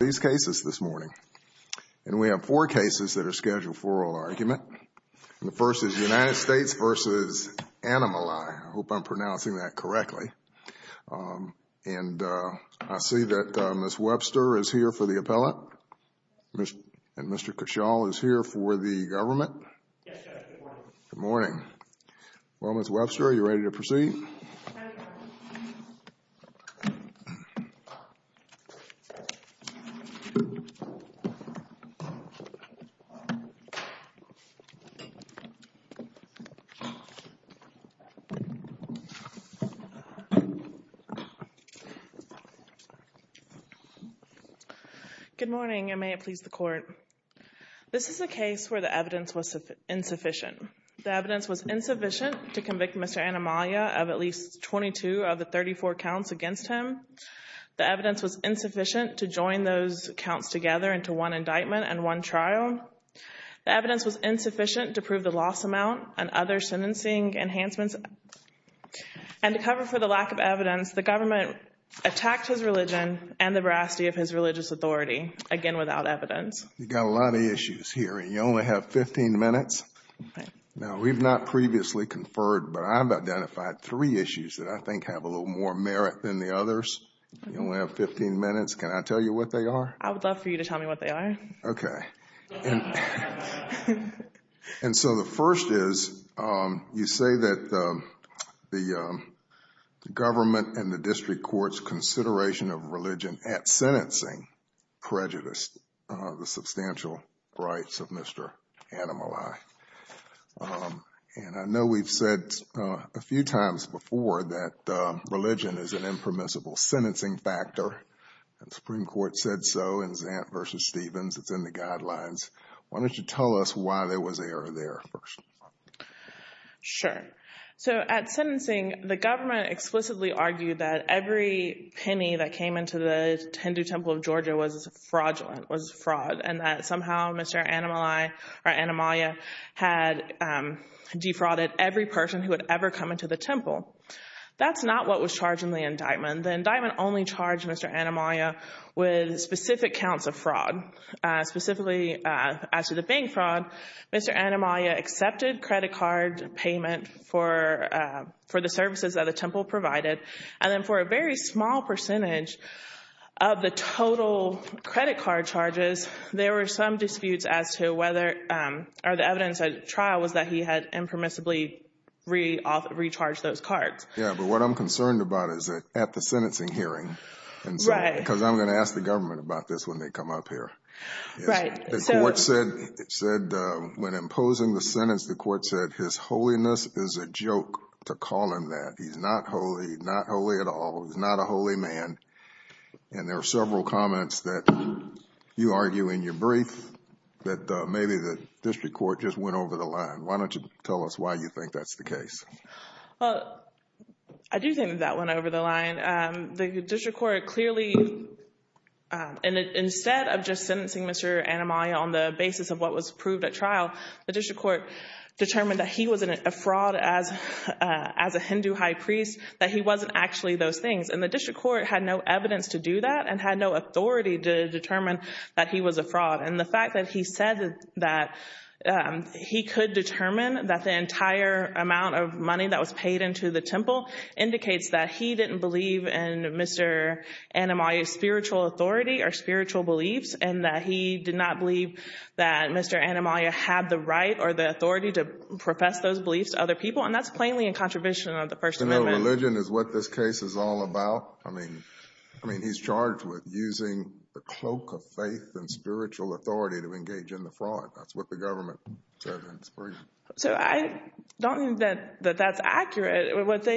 these cases this morning. And we have four cases that are scheduled for oral argument. The first is United States v. Annamalai. I hope I'm pronouncing that correctly. And I see that Ms. Webster is here for the appellate. And Mr. Cashall is here for the government. Good morning. Well, Ms. Webster, are you ready to proceed? Good morning, and may it please the court. This is a case where the evidence was insufficient. The evidence was insufficient to convict Mr. Annamalai of at least 22 of the 34 counts against him. The evidence was insufficient to join those counts together into one indictment and one trial. The evidence was insufficient to prove the loss amount and other sentencing enhancements. And to cover for the lack of evidence, the government attacked his religion and the veracity of his religious authority, again, without evidence. You got a lot of issues here, and you only have 15 minutes. Now, we've not previously conferred, but I've identified three issues that I think have a more merit than the others. You only have 15 minutes. Can I tell you what they are? I would love for you to tell me what they are. Okay. And so the first is, you say that the government and the district court's consideration of religion at sentencing prejudiced the substantial rights of Mr. Annamalai. And I know we've said a few times before that religion is an impermissible sentencing factor. The Supreme Court said so in Zant v. Stevens. It's in the guidelines. Why don't you tell us why there was error there first? Sure. So at sentencing, the government explicitly argued that every penny that came into the Hindu Temple of Georgia was fraudulent, was fraud, and that somehow Mr. Annamalai or Annamalai had defrauded every person who had ever come into the temple. That's not what was charged in the indictment. The indictment only charged Mr. Annamalai with specific counts of fraud. Specifically, as to the bank fraud, Mr. Annamalai accepted credit card payment for the services that the temple provided. And then for a very small percentage of the total credit card charges, there were some disputes as to whether, or the evidence at trial was that he had impermissibly recharged those cards. Yeah. But what I'm concerned about is that at the sentencing hearing, because I'm going to ask the government about this when they come up here. When imposing the sentence, the court said his holiness is a joke to call him that. He's not holy at all. He's not a holy man. And there are several comments that you argue in your brief that maybe the district court just went over the line. Why don't you tell us why you think that's the case? Well, I do think that went over the line. The district court clearly, and instead of just sentencing Mr. Annamalai on the basis of what was proved at trial, the district court determined that he was a fraud as a Hindu high priest, that he wasn't actually those things. And the district court had no evidence to do that and had no authority to determine that he was a fraud. And the fact that he said that he could determine that the entire amount of money that was paid into the temple indicates that he didn't believe in Mr. Annamalai's spiritual authority or spiritual beliefs, and that he did not believe that Mr. Annamalai had the right or the authority to profess those beliefs to other people. And that's plainly in contribution of the First Amendment. So no religion is what this case is all about? I mean, he's charged with using the cloak of faith and spiritual authority to engage in the fraud. That's what the government said in its brief. So I don't think that that's accurate.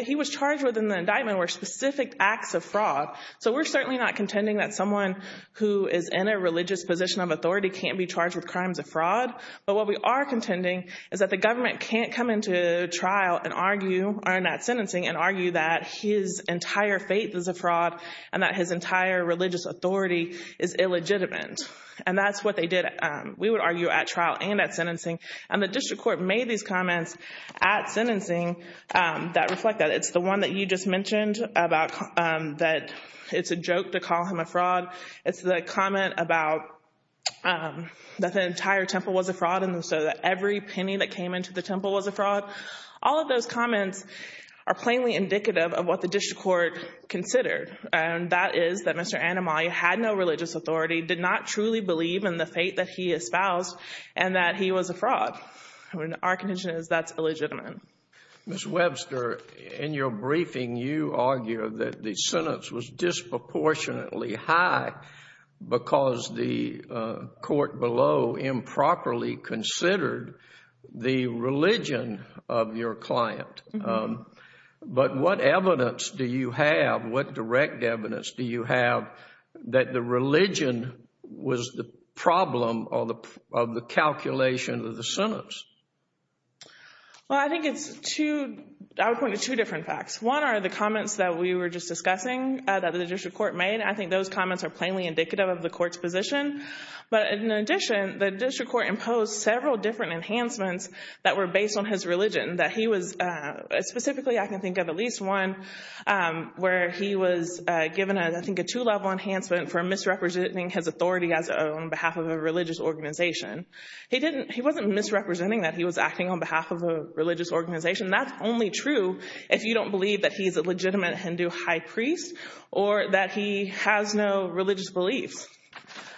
He was charged with an indictment where specific acts of fraud. So we're certainly not contending that someone who is in a religious position of authority can't be charged with crimes of fraud. But what we are contending is that the government can't come into trial and argue, or not sentencing, and argue that his entire faith is a fraud and that his entire religious authority is illegitimate. And that's what they did, we would argue, at trial and at sentencing. And the district court made these comments at sentencing that reflect that. It's the one that you just mentioned about that it's a joke to call him a fraud. It's the comment about that the entire temple was a fraud and so that every penny that came into the temple was a fraud. All of those comments are plainly indicative of what the district court considered. And that is that Mr. Anomaly had no religious authority, did not truly believe in the faith that he espoused, and that he was a fraud. Our contention is that's illegitimate. Ms. Webster, in your briefing, you argue that the sentence was disproportionately high because the court below improperly considered the religion of your client. But what evidence do you have, what direct evidence do you have, that the religion was the problem of the calculation of the sentence? Well, I think it's two, I would point to two different facts. One are the comments that we were just discussing that the district court made. I think those comments are plainly indicative of the court's position. But in addition, the district court imposed several different enhancements that were based on his religion. Specifically, I can think of at least one where he was given, I think, a two-level enhancement for misrepresenting his authority as on behalf of a religious organization. He wasn't misrepresenting that he was acting on behalf of a religious organization. That's only true if you don't believe that he's a legitimate Hindu high priest or that he has no religious beliefs.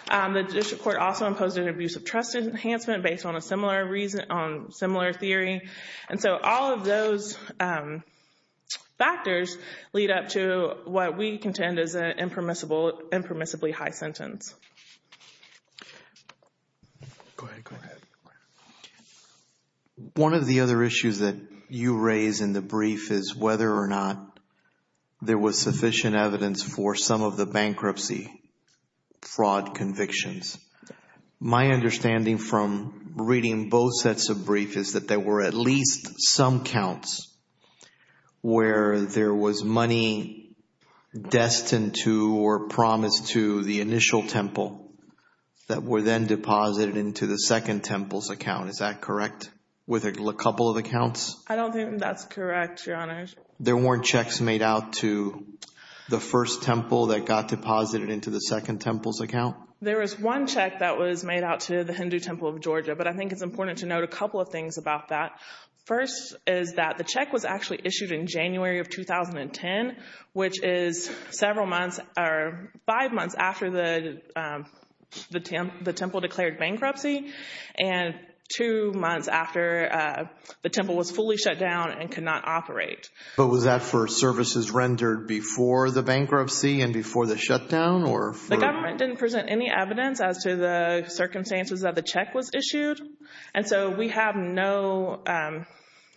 The district court also imposed an abuse of trust enhancement based on a similar theory. And so all of those factors lead up to what we contend is an impermissibly high sentence. Go ahead, go ahead. One of the other issues that you raise in the brief is whether or not there was sufficient evidence for some of the bankruptcy fraud convictions. My understanding from reading both sets of brief is that there were at least some counts where there was money destined to or promised to the initial temple that were then deposited into the second temple's account. Is that correct? With a couple of accounts? I don't think that's correct, Your Honor. There weren't checks made out to the first temple that got deposited into the second temple's account? There was one check that was made out to the Hindu Temple of Georgia, but I think it's important to note a couple of things about that. First is that the check was actually issued in January of 2010, which is several months or five months after the temple declared bankruptcy, and two months after the temple was fully shut down and could not operate. But was that for services rendered before the bankruptcy and before the shutdown or? The government didn't present any evidence as to the circumstances that the check was issued. And so we have no,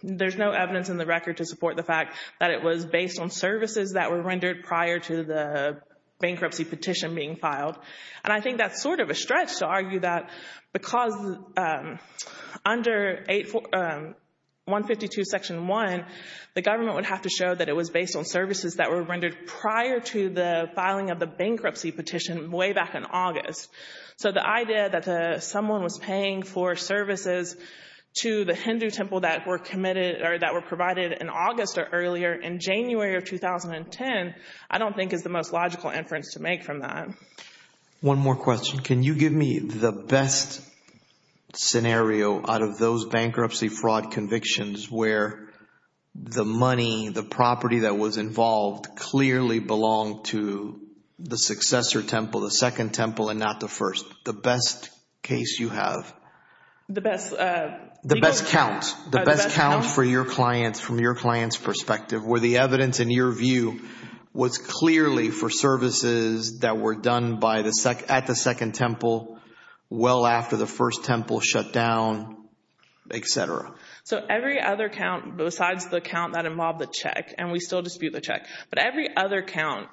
there's no evidence in the record to support the fact that it was based on services that were rendered prior to the bankruptcy petition being filed. And I think that's sort of a stretch to argue that because under 152 section 1, the government would have to show that it was based on services that were rendered prior to the filing of the bankruptcy petition way back in August. So the idea that someone was paying for services to the Hindu Temple that were committed or that were provided in August or earlier in January of 2010, I don't think is the most logical inference to make from that. One more question. Can you give me the best scenario out of those bankruptcy fraud convictions where the money, the property that was involved clearly belonged to the successor temple, the second temple and not the first? The best case you have? The best? The best count. The best count for your clients from your client's perspective where the evidence in your view was clearly for services that were done at the second temple well after the first temple shut down, etc. So every other count besides the count that involved the check, and we still dispute the check, but every other count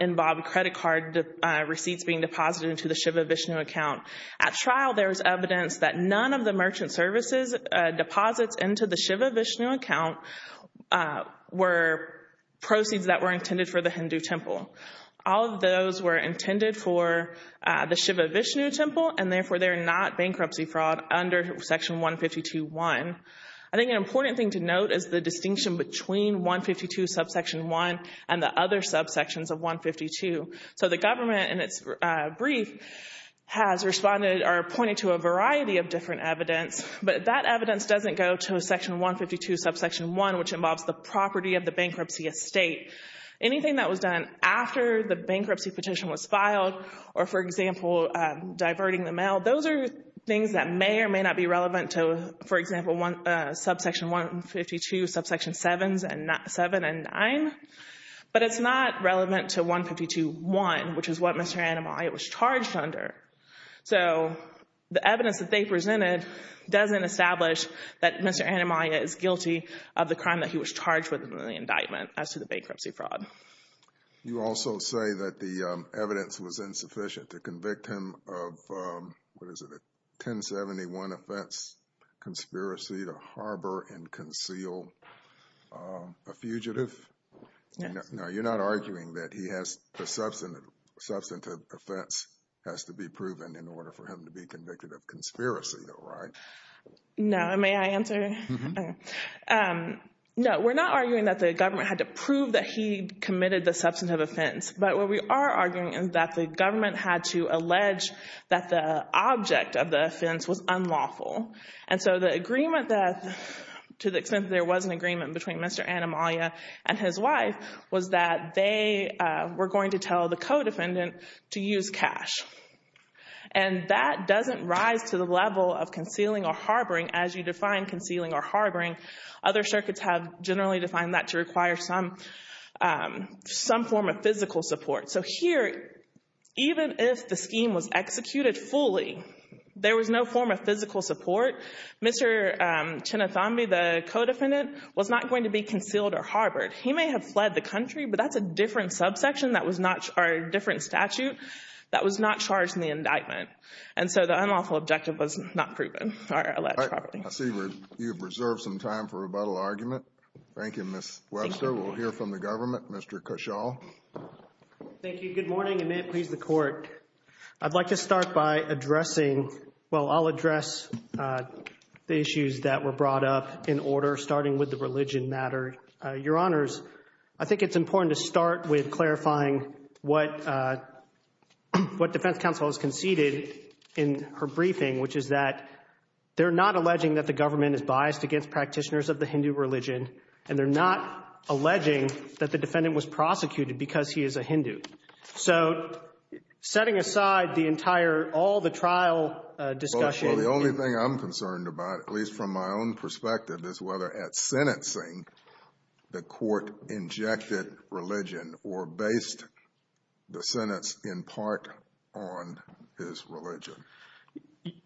involved credit card receipts being deposited into the Shiva Vishnu account. At trial, there's evidence that none of the merchant services deposits into the Shiva Vishnu account were proceeds that were intended for the Hindu Temple. All of those were intended for the Shiva Vishnu Temple and therefore they're not bankruptcy fraud under section 152.1. I think an important thing to note is the distinction between 152 subsection 1 and the other subsections of 152. So the government in its brief has responded or pointed to a variety of different evidence, but that evidence doesn't go to section 152 subsection 1, which involves the property of the bankruptcy estate. Anything that was done after the bankruptcy petition was filed or, for example, diverting the mail, those are things that may or may not be relevant to, for example, subsection 152 subsection 7 and 9. But it's not relevant to 152.1, which is what Mr. Anamaya was charged under. So the evidence that they presented doesn't establish that Mr. Anamaya is guilty of the crime that he was charged with in the indictment as to the bankruptcy fraud. You also say that the evidence was insufficient to convict him of, what is it, a 1071 offense conspiracy to harbor and conceal a fugitive? No, you're not arguing that he has the substantive offense has to be proven in order for him to be convicted of conspiracy, though, right? No, may I answer? No, we're not arguing that the government had to prove that he committed the substantive offense. But what we are arguing is that the government had to allege that the object of the offense was unlawful. And so the agreement that, to the extent that there was an agreement between Mr. Anamaya and his wife, was that they were going to tell the co-defendant to use cash. And that doesn't rise to the level of concealing or harboring as you define concealing or harboring. Other circuits have generally defined that to require some form of physical support. So here, even if the scheme was executed fully, there was no form of physical support. Mr. Chinathambi, the co-defendant, was not going to be concealed or harbored. He may have fled the country, but that's a different subsection that was not, or a different statute that was not charged in the indictment. And so the unlawful objective was not proven, or alleged property. I see you've reserved some time for rebuttal argument. Thank you, Ms. Webster. We'll hear from the government. Mr. Cashall. Thank you. Good morning, and may it please the Court. I'd like to start by addressing, well, I'll address the issues that were brought up in order, starting with the religion matter. Your Honors, I think it's important to start with clarifying what defense counsel has conceded in her briefing, which is that they're not alleging that the government is biased against practitioners of the Hindu religion, and they're not alleging that the defendant was prosecuted because he is a Hindu. So setting aside the entire, all the trial discussion and — Well, the only thing I'm concerned about, at least from my own perspective, is whether at sentencing the Court injected religion or based the sentence in part on his religion.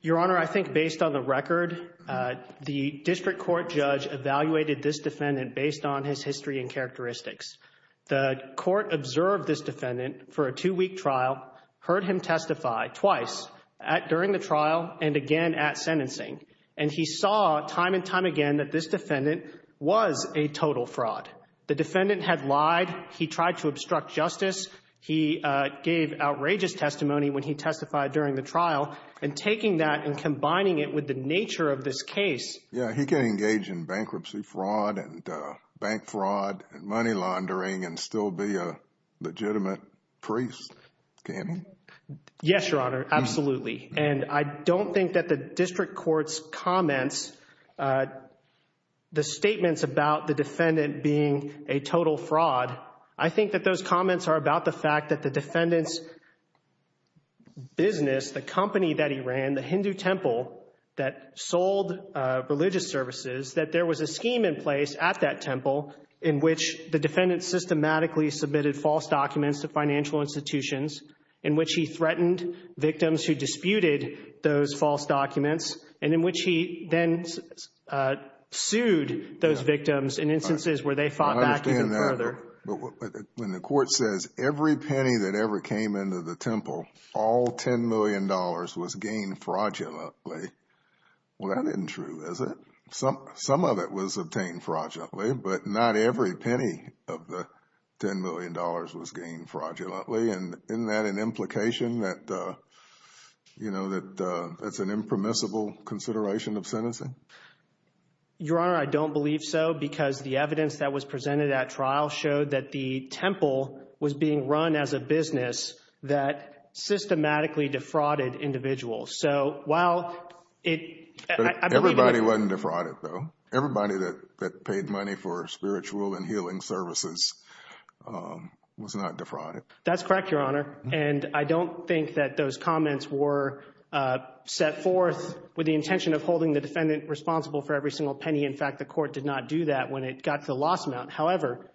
Your Honor, I think based on the record, the district court judge evaluated this defendant based on his history and characteristics. The Court observed this defendant for a two-week trial, heard him testify twice during the trial and again at sentencing, and he saw time and time again that this defendant was a total fraud. The defendant had lied. He tried to obstruct justice. He gave outrageous testimony when he testified during the trial, and taking that and combining it with the nature of this case — and still be a legitimate priest, can he? Yes, Your Honor, absolutely. And I don't think that the district court's comments, the statements about the defendant being a total fraud, I think that those comments are about the fact that the defendant's business, the company that he ran, the Hindu temple that sold religious services, that there was a scheme in place at that temple in which the defendant systematically submitted false documents to financial institutions, in which he threatened victims who disputed those false documents, and in which he then sued those victims in instances where they fought back even further. I understand that, but when the Court says every penny that ever came into the temple, all $10 million was gained fraudulently, well, that isn't true, is it? Some of it was obtained fraudulently, but not every penny of the $10 million was gained fraudulently, and isn't that an implication that, you know, that that's an impermissible consideration of sentencing? Your Honor, I don't believe so, because the evidence that was presented at trial showed that the temple was being run as a business that systematically defrauded individuals. So while it — Everybody wasn't defrauded, though. Everybody that paid money for spiritual and healing services was not defrauded. That's correct, Your Honor. And I don't think that those comments were set forth with the intention of holding the defendant responsible for every single penny. In fact, the Court did not do that when it got to the loss amount. However,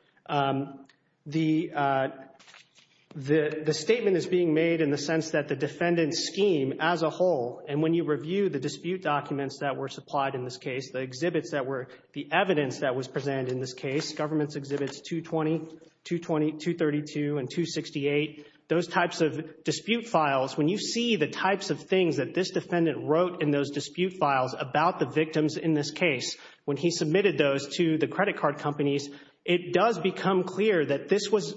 the statement is being made in the sense that the defendant's scheme as a whole, and when you review the dispute documents that were supplied in this case, the exhibits that were — the evidence that was presented in this case, government's exhibits 220, 220, 232, and 268, those types of dispute files, when you see the types of things that this defendant wrote in those dispute files about the victims in this case, when he submitted those to the credit card companies, it does become clear that this was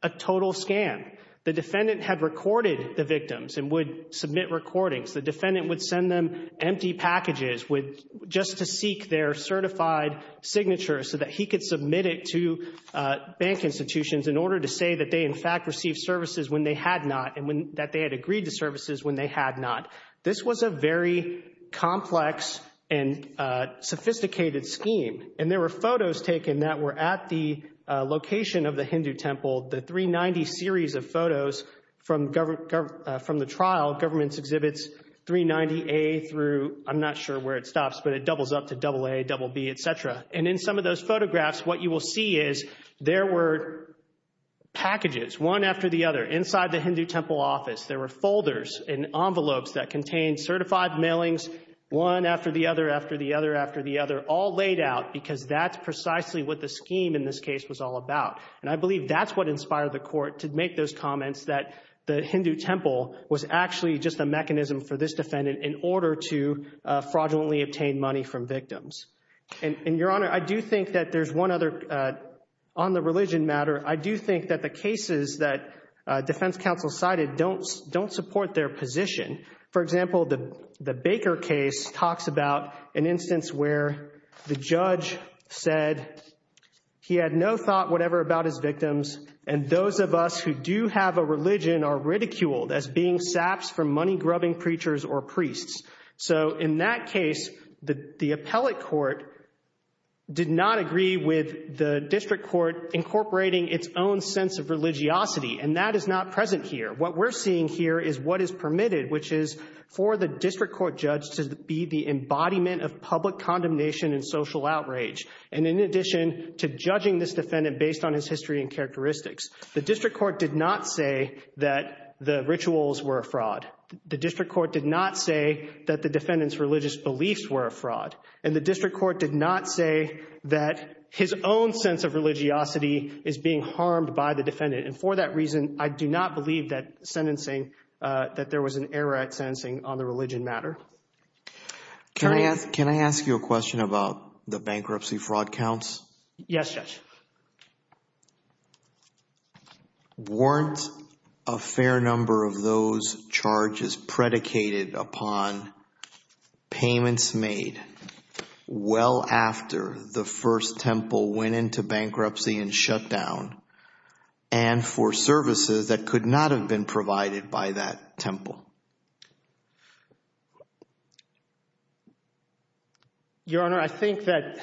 a total scam. The defendant had recorded the victims and would submit recordings. The defendant would send them empty packages with — just to seek their certified signatures so that he could submit it to bank institutions in order to say that they, in fact, received services when they had not and when — that they had agreed to services when they had not. This was a very complex and sophisticated scheme, and there were photos taken that were at the location of the Hindu temple, the 390 series of photos from the trial, government's exhibits 390A through — I'm not sure where it stops, but it doubles up to AA, BB, etc. And in some of those photographs, what you will see is there were packages, one after the other, inside the Hindu temple office. There were folders and envelopes that contained certified mailings, one after the other, after scheme in this case was all about. And I believe that's what inspired the court to make those comments that the Hindu temple was actually just a mechanism for this defendant in order to fraudulently obtain money from victims. And, Your Honor, I do think that there's one other — on the religion matter, I do think that the cases that defense counsel cited don't support their position. For example, the Baker case talks about an instance where the judge said he had no thought whatever about his victims, and those of us who do have a religion are ridiculed as being saps from money-grubbing preachers or priests. So in that case, the appellate court did not agree with the district court incorporating its own sense of religiosity, and that is not present here. What we're seeing here is what is permitted, which is for the district court judge to be the embodiment of public condemnation and social outrage. And in addition to judging this defendant based on his history and characteristics, the district court did not say that the rituals were a fraud. The district court did not say that the defendant's religious beliefs were a fraud. And the district court did not say that his own sense of religiosity is being harmed by the defendant. And for that reason, I do not believe that there was an error at sentencing on the religion matter. Can I ask you a question about the bankruptcy fraud counts? Yes, Judge. Weren't a fair number of those charges predicated upon payments made well after the first temple went into bankruptcy and shut down and for services that could not have been provided by that temple? Your Honor, I think that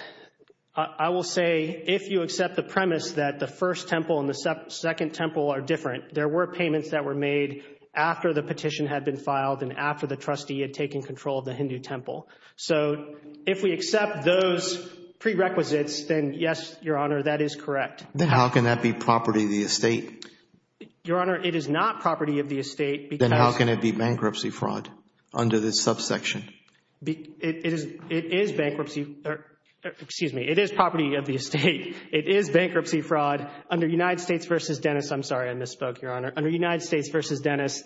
I will say if you accept the premise that the first temple and the second temple are different, there were payments that were made after the petition had been filed and after the trustee had taken control of the Hindu temple. So if we accept those prerequisites, then yes, Your Honor, that is correct. Then how can that be property of the estate? Your Honor, it is not property of the estate. Then how can it be bankruptcy fraud under this subsection? It is bankruptcy, or excuse me, it is property of the estate. It is bankruptcy fraud under United States v. Dennis. I'm sorry, I misspoke, Your Honor. Under United States v. Dennis,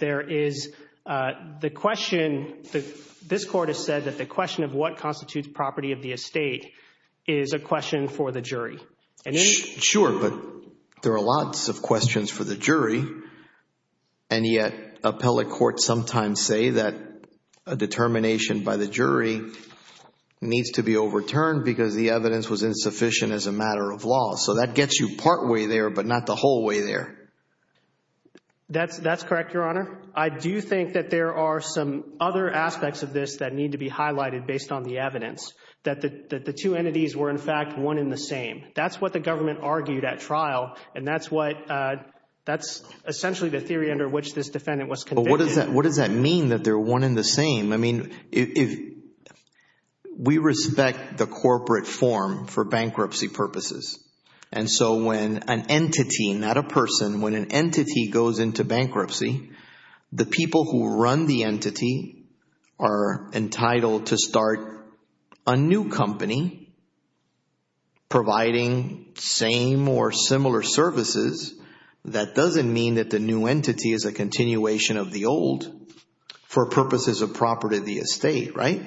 this Court has said that the question of what constitutes property of the estate is a question for the jury. Sure, but there are lots of questions for the jury, and yet appellate courts sometimes say that a determination by the jury needs to be overturned because the evidence was insufficient as a matter of law. So that gets you partway there, but not the whole way there. That's correct, Your Honor. I do think that there are some other aspects of this that need to be highlighted based on the evidence, that the two entities were in fact one in the same. That's what the government argued at trial, and that's essentially the theory under which this defendant was convicted. But what does that mean that they're one in the same? I mean, we respect the corporate form for bankruptcy purposes, and so when an entity, not a person, when an entity goes into bankruptcy, the people who run the entity are entitled to start a new company providing same or similar services. That doesn't mean that the new entity is a continuation of the old for purposes of property of the estate, right?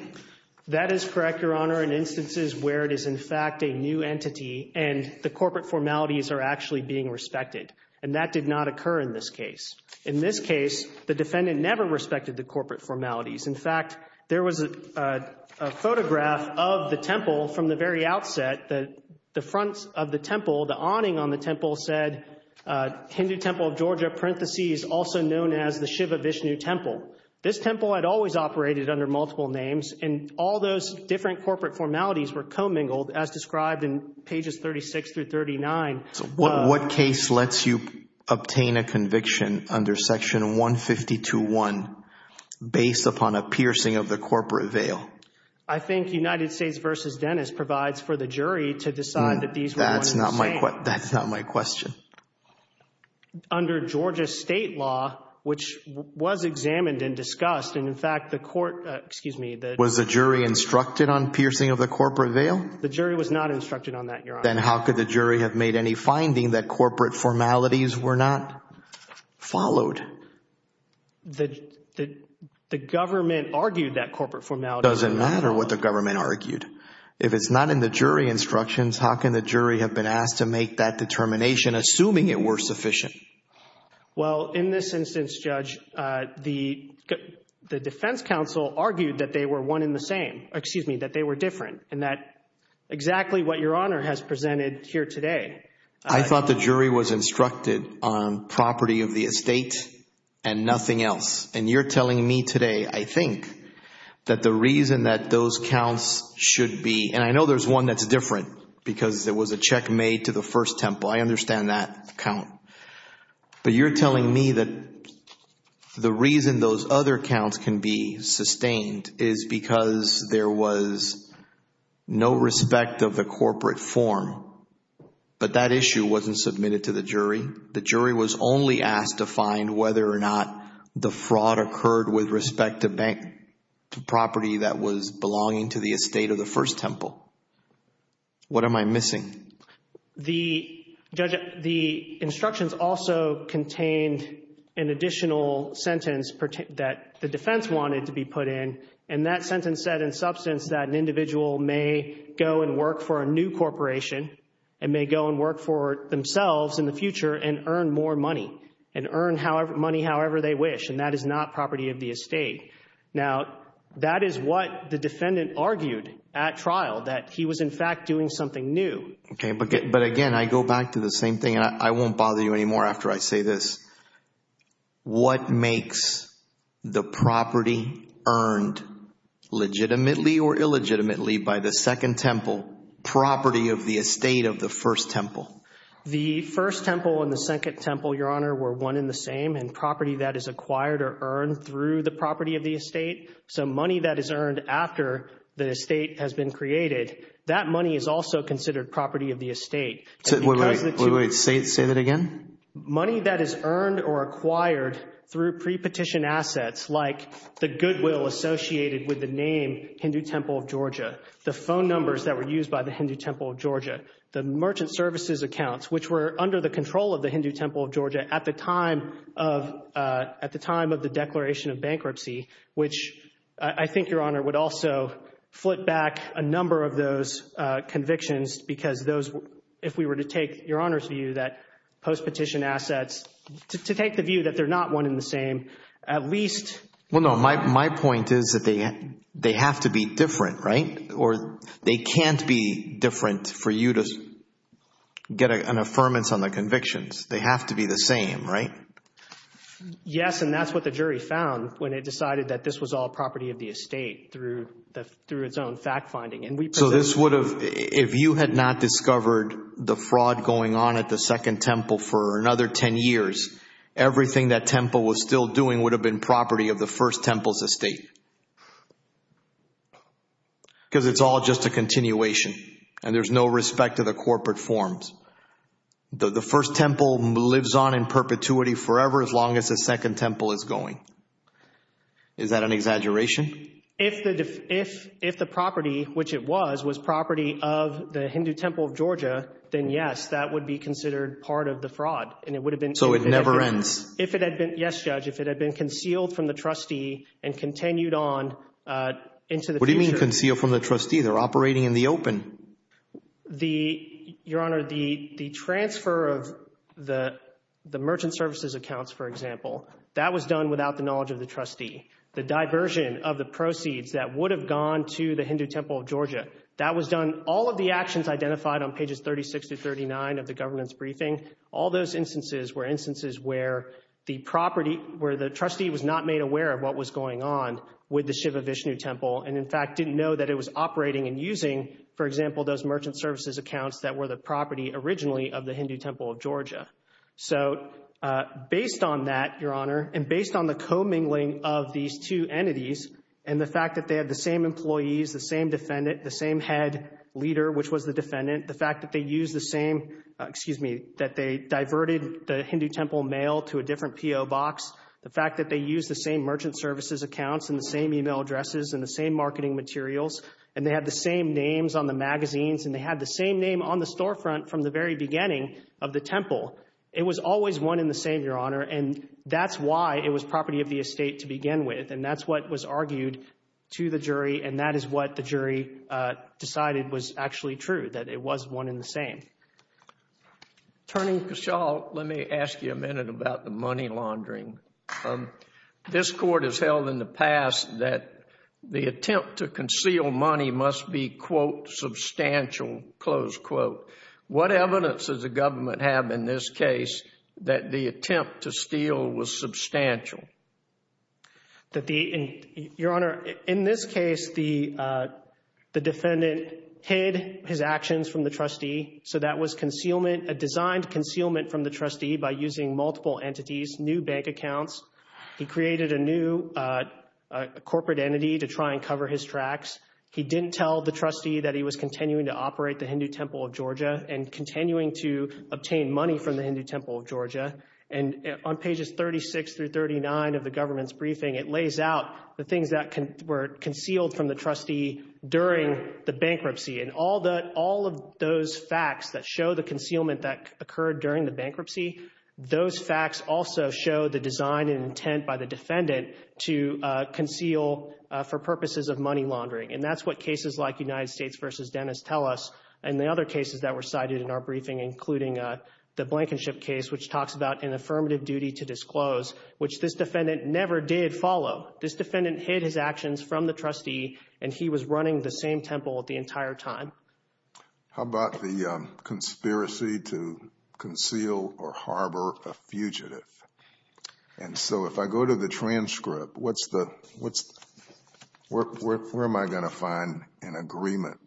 That is correct, Your Honor, in instances where it is in fact a new entity, and the And that did not occur in this case. In this case, the defendant never respected the corporate formalities. In fact, there was a photograph of the temple from the very outset that the front of the temple, the awning on the temple said Hindu Temple of Georgia, parentheses, also known as the Shiva Vishnu Temple. This temple had always operated under multiple names, and all those different corporate formalities were commingled, as described in pages 36 through 39. What case lets you obtain a conviction under Section 152.1 based upon a piercing of the corporate veil? I think United States v. Dennis provides for the jury to decide that these were one in the same. That's not my question. Under Georgia state law, which was examined and discussed, and in fact, the court, excuse me, the Was the jury instructed on piercing of the corporate veil? The jury was not instructed on that, Your Honor. Then how could the jury have made any finding that corporate formalities were not followed? The government argued that corporate formality. Doesn't matter what the government argued. If it's not in the jury instructions, how can the jury have been asked to make that determination, assuming it were sufficient? Well, in this instance, Judge, the defense counsel argued that they were one in the same, excuse me, that they were different and that exactly what Your Honor has presented here today. I thought the jury was instructed on property of the estate and nothing else. And you're telling me today, I think that the reason that those counts should be, and I know there's one that's different because it was a check made to the first temple. I understand that count. But you're telling me that the reason those other counts can be sustained is because there was no respect of the corporate form, but that issue wasn't submitted to the jury. The jury was only asked to find whether or not the fraud occurred with respect to bank, to property that was belonging to the estate of the first temple. What am I missing? The, Judge, the instructions also contained an additional sentence that the defense wanted to be put in. And that sentence said in substance that an individual may go and work for a new corporation and may go and work for themselves in the future and earn more money and earn money however they wish. And that is not property of the estate. Now, that is what the defendant argued at trial, that he was in fact doing something new. Okay. But again, I go back to the same thing and I won't bother you anymore after I say this. What makes the property earned legitimately or illegitimately by the second temple property of the estate of the first temple? The first temple and the second temple, Your Honor, were one in the same. And property that is acquired or earned through the property of the estate, so money that is earned after the estate has been created, that money is also considered property of the estate. So wait, wait, wait, say that again? Money that is earned or acquired through pre-petition assets like the goodwill associated with the name Hindu Temple of Georgia, the phone numbers that were used by the Hindu Temple of Georgia, the merchant services accounts, which were under the control of the Hindu at the time of the declaration of bankruptcy, which I think, Your Honor, would also flip back a number of those convictions because those, if we were to take Your Honor's view that post-petition assets, to take the view that they're not one in the same, at least Well, no, my point is that they have to be different, right? Or they can't be different for you to get an affirmance on the convictions. They have to be the same, right? Yes, and that's what the jury found when it decided that this was all property of the estate through its own fact-finding. And we presented So this would have, if you had not discovered the fraud going on at the Second Temple for another 10 years, everything that Temple was still doing would have been property of the First Temple's estate because it's all just a continuation and there's no respect to the corporate forms. The First Temple lives on in perpetuity forever as long as the Second Temple is going. Is that an exaggeration? If the property, which it was, was property of the Hindu Temple of Georgia, then yes, that would be considered part of the fraud and it would have been So it never ends? Yes, Judge. If it had been concealed from the trustee and continued on into the future What do you mean concealed from the trustee? They're operating in the open. The, Your Honor, the transfer of the merchant services accounts, for example, that was done without the knowledge of the trustee. The diversion of the proceeds that would have gone to the Hindu Temple of Georgia, that was done, all of the actions identified on pages 36 to 39 of the governance briefing, all those instances were instances where the property, where the trustee was not made aware of what was going on with the Shiva Vishnu Temple and, in fact, didn't know that it was that were the property originally of the Hindu Temple of Georgia. So based on that, Your Honor, and based on the commingling of these two entities and the fact that they had the same employees, the same defendant, the same head leader, which was the defendant, the fact that they used the same, excuse me, that they diverted the Hindu Temple mail to a different PO box, the fact that they used the same merchant services accounts and the same email addresses and the same marketing materials, and they had the same names on the magazines and they had the same name on the storefront from the very beginning of the temple, it was always one and the same, Your Honor, and that's why it was property of the estate to begin with, and that's what was argued to the jury and that is what the jury decided was actually true, that it was one and the same. Attorney Giselle, let me ask you a minute about the money laundering. This Court has held in the past that the attempt to conceal money must be, quote, substantial, close quote. What evidence does the government have in this case that the attempt to steal was substantial? That the, Your Honor, in this case, the defendant hid his actions from the trustee, so that was concealment, a designed concealment from the trustee by using multiple entities, new bank accounts, he created a new corporate entity to try and cover his tracks, he didn't tell the trustee that he was continuing to operate the Hindu Temple of Georgia and continuing to obtain money from the Hindu Temple of Georgia, and on pages 36 through 39 of the government's briefing, it lays out the things that were concealed from the trustee during the bankruptcy, and all of those facts that show the concealment that occurred during the bankruptcy, those facts also show the design and intent by the defendant to conceal for purposes of money laundering, and that's what cases like United States v. Dennis tell us, and the other cases that were cited in our briefing, including the Blankenship case, which talks about an affirmative duty to disclose, which this defendant never did follow. This defendant hid his actions from the trustee, and he was running the same temple the entire time. How about the conspiracy to conceal or harbor a fugitive? And so if I go to the transcript, where am I going to find an agreement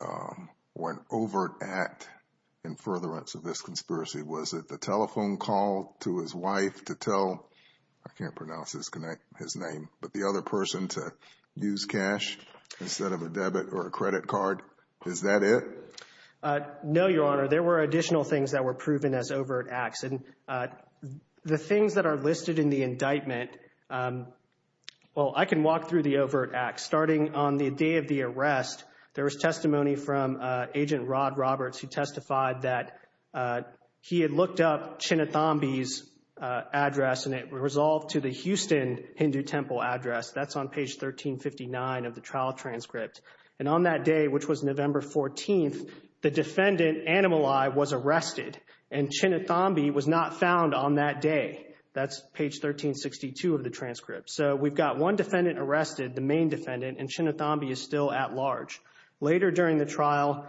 or an overt act in furtherance of this conspiracy? Was it the telephone call to his wife to tell, I can't pronounce his name, but the other person to use cash instead of a debit or a credit card? Is that it? No, Your Honor. There were additional things that were proven as overt acts, and the things that are listed in the indictment, well, I can walk through the overt acts. Starting on the day of the arrest, there was testimony from Agent Rod Roberts who testified that he had looked up Chinathambi's address, and it resolved to the Houston Hindu Temple address. That's on page 1359 of the trial transcript. And on that day, which was November 14th, the defendant, Animal Eye, was arrested, and Chinathambi was not found on that day. That's page 1362 of the transcript. So we've got one defendant arrested, the main defendant, and Chinathambi is still at large. Later during the trial,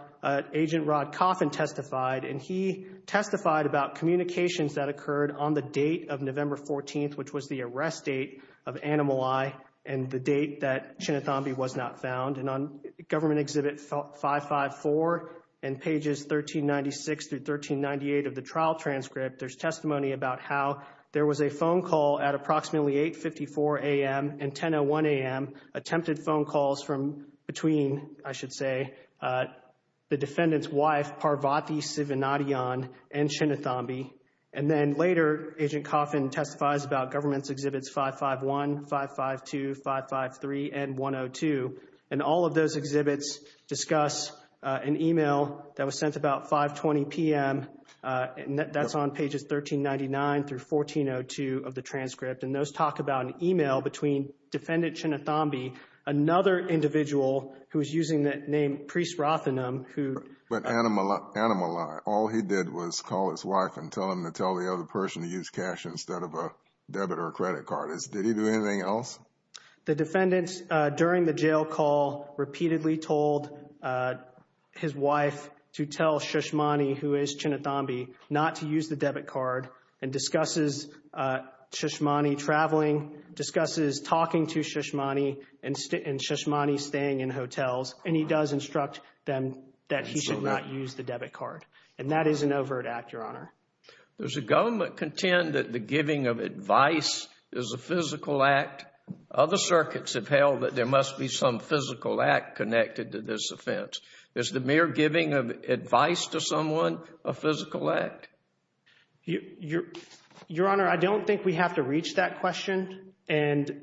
Agent Rod Coffin testified, and he testified about communications that occurred on the date of November 14th, which was the arrest date of Animal Eye, and the date that Chinathambi was not found. And on Government Exhibit 554 and pages 1396 through 1398 of the trial transcript, there's testimony about how there was a phone call at approximately 8.54 a.m. and 10.01 a.m., attempted phone calls from between, I should say, the defendant's wife, Parvati Sivanadian, and Chinathambi. And then later, Agent Coffin testifies about Government Exhibits 551, 552, 553, and 102. And all of those exhibits discuss an email that was sent about 5.20 p.m., and that's on pages 1399 through 1402 of the transcript. And those talk about an email between Defendant Chinathambi, another individual who is using the name Priest Rothenam, who… But Animal Eye, all he did was call his wife and tell him to tell the other person to use cash instead of a debit or credit card. Did he do anything else? The defendant, during the jail call, repeatedly told his wife to tell Shishmani, who is Chinathambi, not to use the debit card, and discusses Shishmani traveling, discusses talking to Shishmani, and Shishmani staying in hotels. And he does instruct them that he should not use the debit card. And that is an overt act, Your Honor. Does the government contend that the giving of advice is a physical act? Other circuits have held that there must be some physical act connected to this offense. Is the mere giving of advice to someone a physical act? Your Honor, I don't think we have to reach that question. And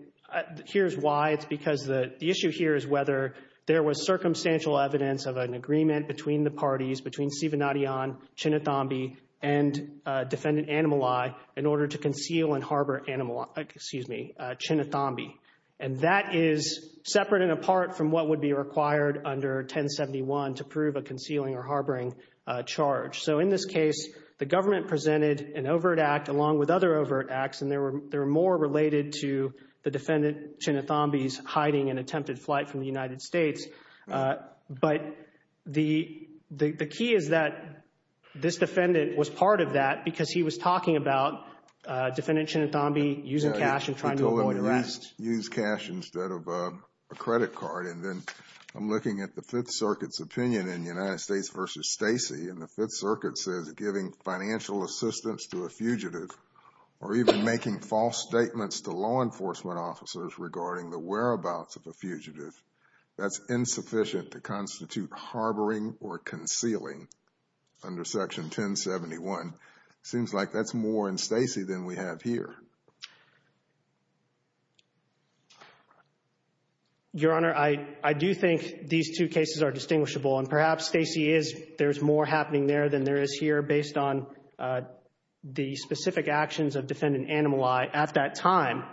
here's why. It's because the issue here is whether there was circumstantial evidence of an agreement between the parties, between Sivanadiyan, Chinathambi, and Defendant Animal Eye, in order to conceal and harbor Chinathambi. And that is separate and apart from what would be required under 1071 to prove a concealing or harboring charge. So in this case, the government presented an overt act, along with other overt acts, and they were more related to the defendant, Chinathambi's, hiding and attempted flight from the United States. But the key is that this defendant was part of that because he was talking about Defendant Chinathambi using cash and trying to avoid arrest. Use cash instead of a credit card. And then I'm looking at the Fifth Circuit's opinion in United States v. Stacey, and the Fifth Circuit says giving financial assistance to a fugitive or even making false statements to law enforcement officers regarding the whereabouts of a fugitive, that's insufficient to constitute harboring or concealing under Section 1071. Seems like that's more in Stacey than we have here. Your Honor, I do think these two cases are distinguishable. And perhaps Stacey is, there's more happening there than there is here based on the specific actions of Defendant Anamali at that time.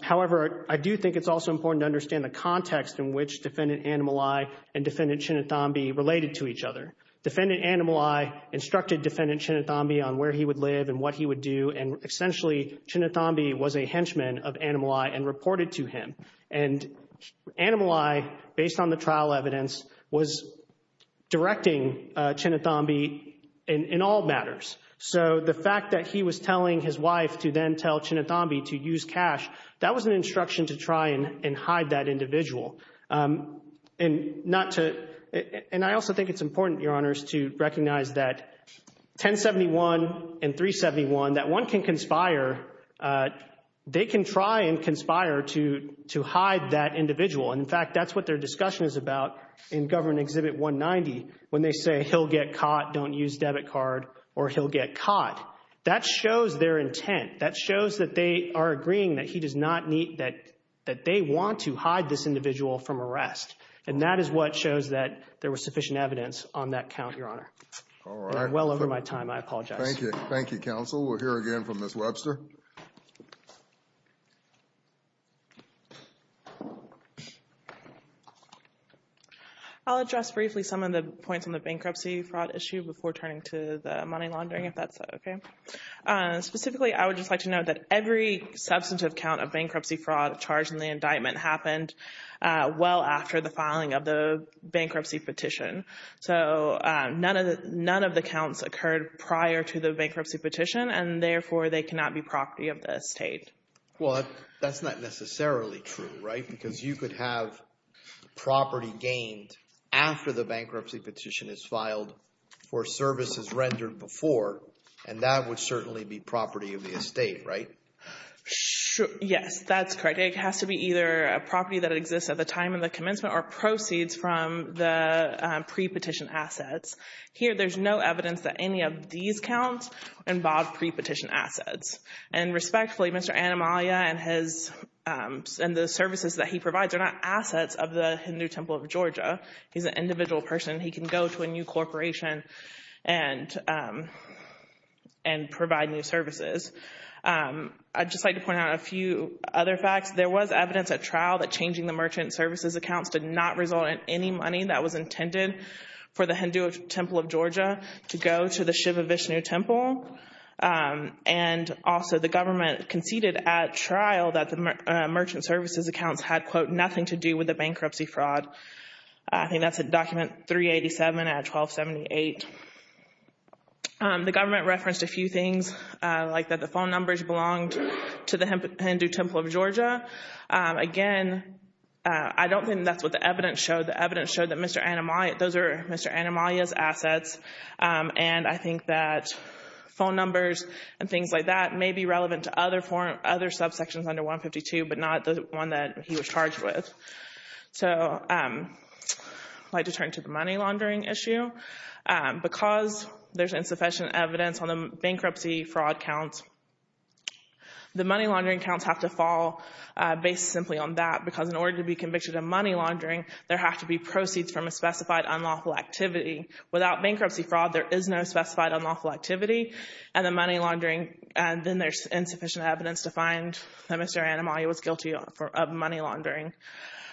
However, I do think it's also important to understand the context in which Defendant Anamali and Defendant Chinathambi related to each other. Defendant Anamali instructed Defendant Chinathambi on where he would live and what he would do. And essentially, Chinathambi was a henchman of Anamali and reported to him. And Anamali, based on the trial evidence, was directing Chinathambi in all matters. So the fact that he was telling his wife to then tell Chinathambi to use cash, that was an instruction to try and hide that individual. And I also think it's important, Your Honors, to recognize that 1071 and 371, that one can conspire, they can try and conspire to hide that individual. And in fact, that's what their discussion is about in Government Exhibit 190 when they say he'll get caught, don't use debit card, or he'll get caught. That shows their intent. That shows that they are agreeing that he does not need, that they want to hide this individual from arrest. And that is what shows that there was sufficient evidence on that count, Your Honor. All right. I'm well over my time. I apologize. Thank you. Thank you, counsel. We'll hear again from Ms. Webster. I'll address briefly some of the points on the bankruptcy fraud issue before turning to the money laundering, if that's okay. Specifically, I would just like to note that every substantive count of bankruptcy fraud charged in the indictment happened well after the filing of the bankruptcy petition. So none of the counts occurred prior to the bankruptcy petition, and therefore, they cannot be property of the estate. Well, that's not necessarily true, right? Because you could have property gained after the bankruptcy petition is filed for services rendered before, and that would certainly be property of the estate, right? Yes, that's correct. It has to be either a property that exists at the time of the commencement or proceeds from the pre-petition assets. Here, there's no evidence that any of these counts involve pre-petition assets. And respectfully, Mr. Anamalia and the services that he provides are not assets of the Hindu Temple of Georgia. He's an individual person. He can go to a new corporation and provide new services. I'd just like to point out a few other facts. There was evidence at trial that changing the merchant services accounts did not result in any money that was intended for the Hindu Temple of Georgia to go to the Shiva Vishnu Temple. And also, the government conceded at trial that the merchant services accounts had, quote, nothing to do with the bankruptcy fraud. I think that's in Document 387 at 1278. The government referenced a few things, like that the phone numbers belonged to the Hindu Temple of Georgia. Again, I don't think that's what the evidence showed. The evidence showed that Mr. Anamalia, those are Mr. Anamalia's assets. And I think that phone numbers and things like that may be relevant to other subsections under 152, but not the one that he was charged with. So I'd like to turn to the money laundering issue. Because there's insufficient evidence on the bankruptcy fraud counts, the money laundering accounts have to fall based simply on that. Because in order to be convicted of money laundering, there have to be proceeds from a specified unlawful activity. Without bankruptcy fraud, there is no specified unlawful activity. And the money laundering, then there's insufficient evidence to find that Mr. Anamalia was guilty of money laundering.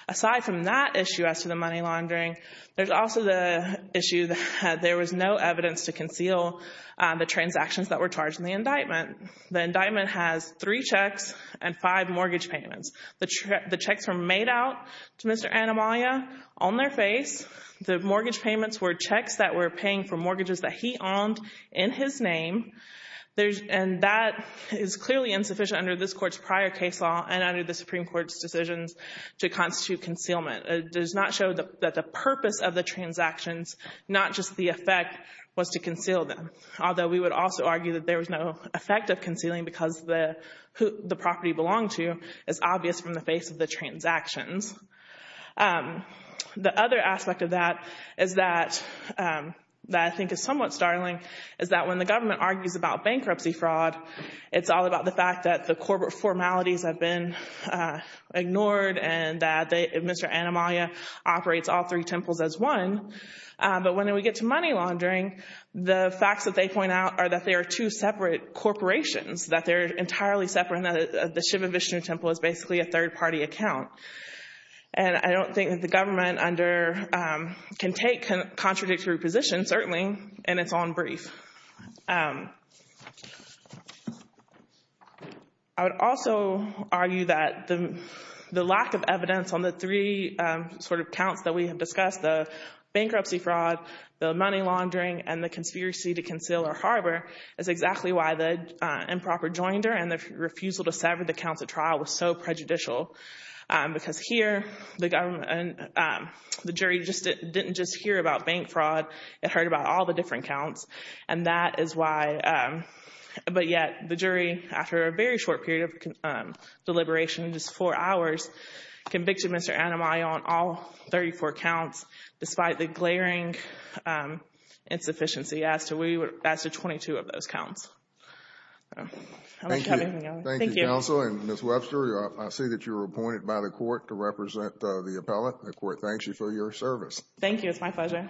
Aside from that issue as to the money laundering, there's also the issue that there was no evidence to conceal the transactions that were charged in the indictment. The indictment has three checks and five mortgage payments. The checks were made out to Mr. Anamalia on their face. The mortgage payments were checks that were paying for mortgages that he owned in his name. And that is clearly insufficient under this court's prior case law and under the Supreme Court's decisions to constitute concealment. It does not show that the purpose of the transactions, not just the effect, was to conceal them. Although we would also argue that there was no effect of concealing because the property belonged to is obvious from the face of the transactions. The other aspect of that is that I think is somewhat startling, is that when the government argues about bankruptcy fraud, it's all about the fact that the corporate formalities have been ignored and that Mr. Anamalia operates all three temples as one. But when we get to money laundering, the facts that they point out are that they are two separate corporations, that they're entirely separate and that the Shiva Vishnu temple is basically a third party account. And I don't think that the government can take contradictory positions, certainly in its own brief. I would also argue that the lack of evidence on the three sort of accounts that we have discussed, the bankruptcy fraud, the money laundering, and the conspiracy to conceal or harbor, is exactly why the improper joinder and the refusal to sever the counts of trial was so prejudicial. Because here, the jury didn't just hear about bank fraud, it heard about all the different counts. And that is why. But yet, the jury, after a very short period of deliberation, just four hours, convicted Mr. Anamalia on all 34 counts, despite the glaring insufficiency as to 22 of those counts. Thank you, counsel. And Ms. Webster, I see that you were appointed by the court to represent the appellate. The court thanks you for your service. Thank you. It's my pleasure.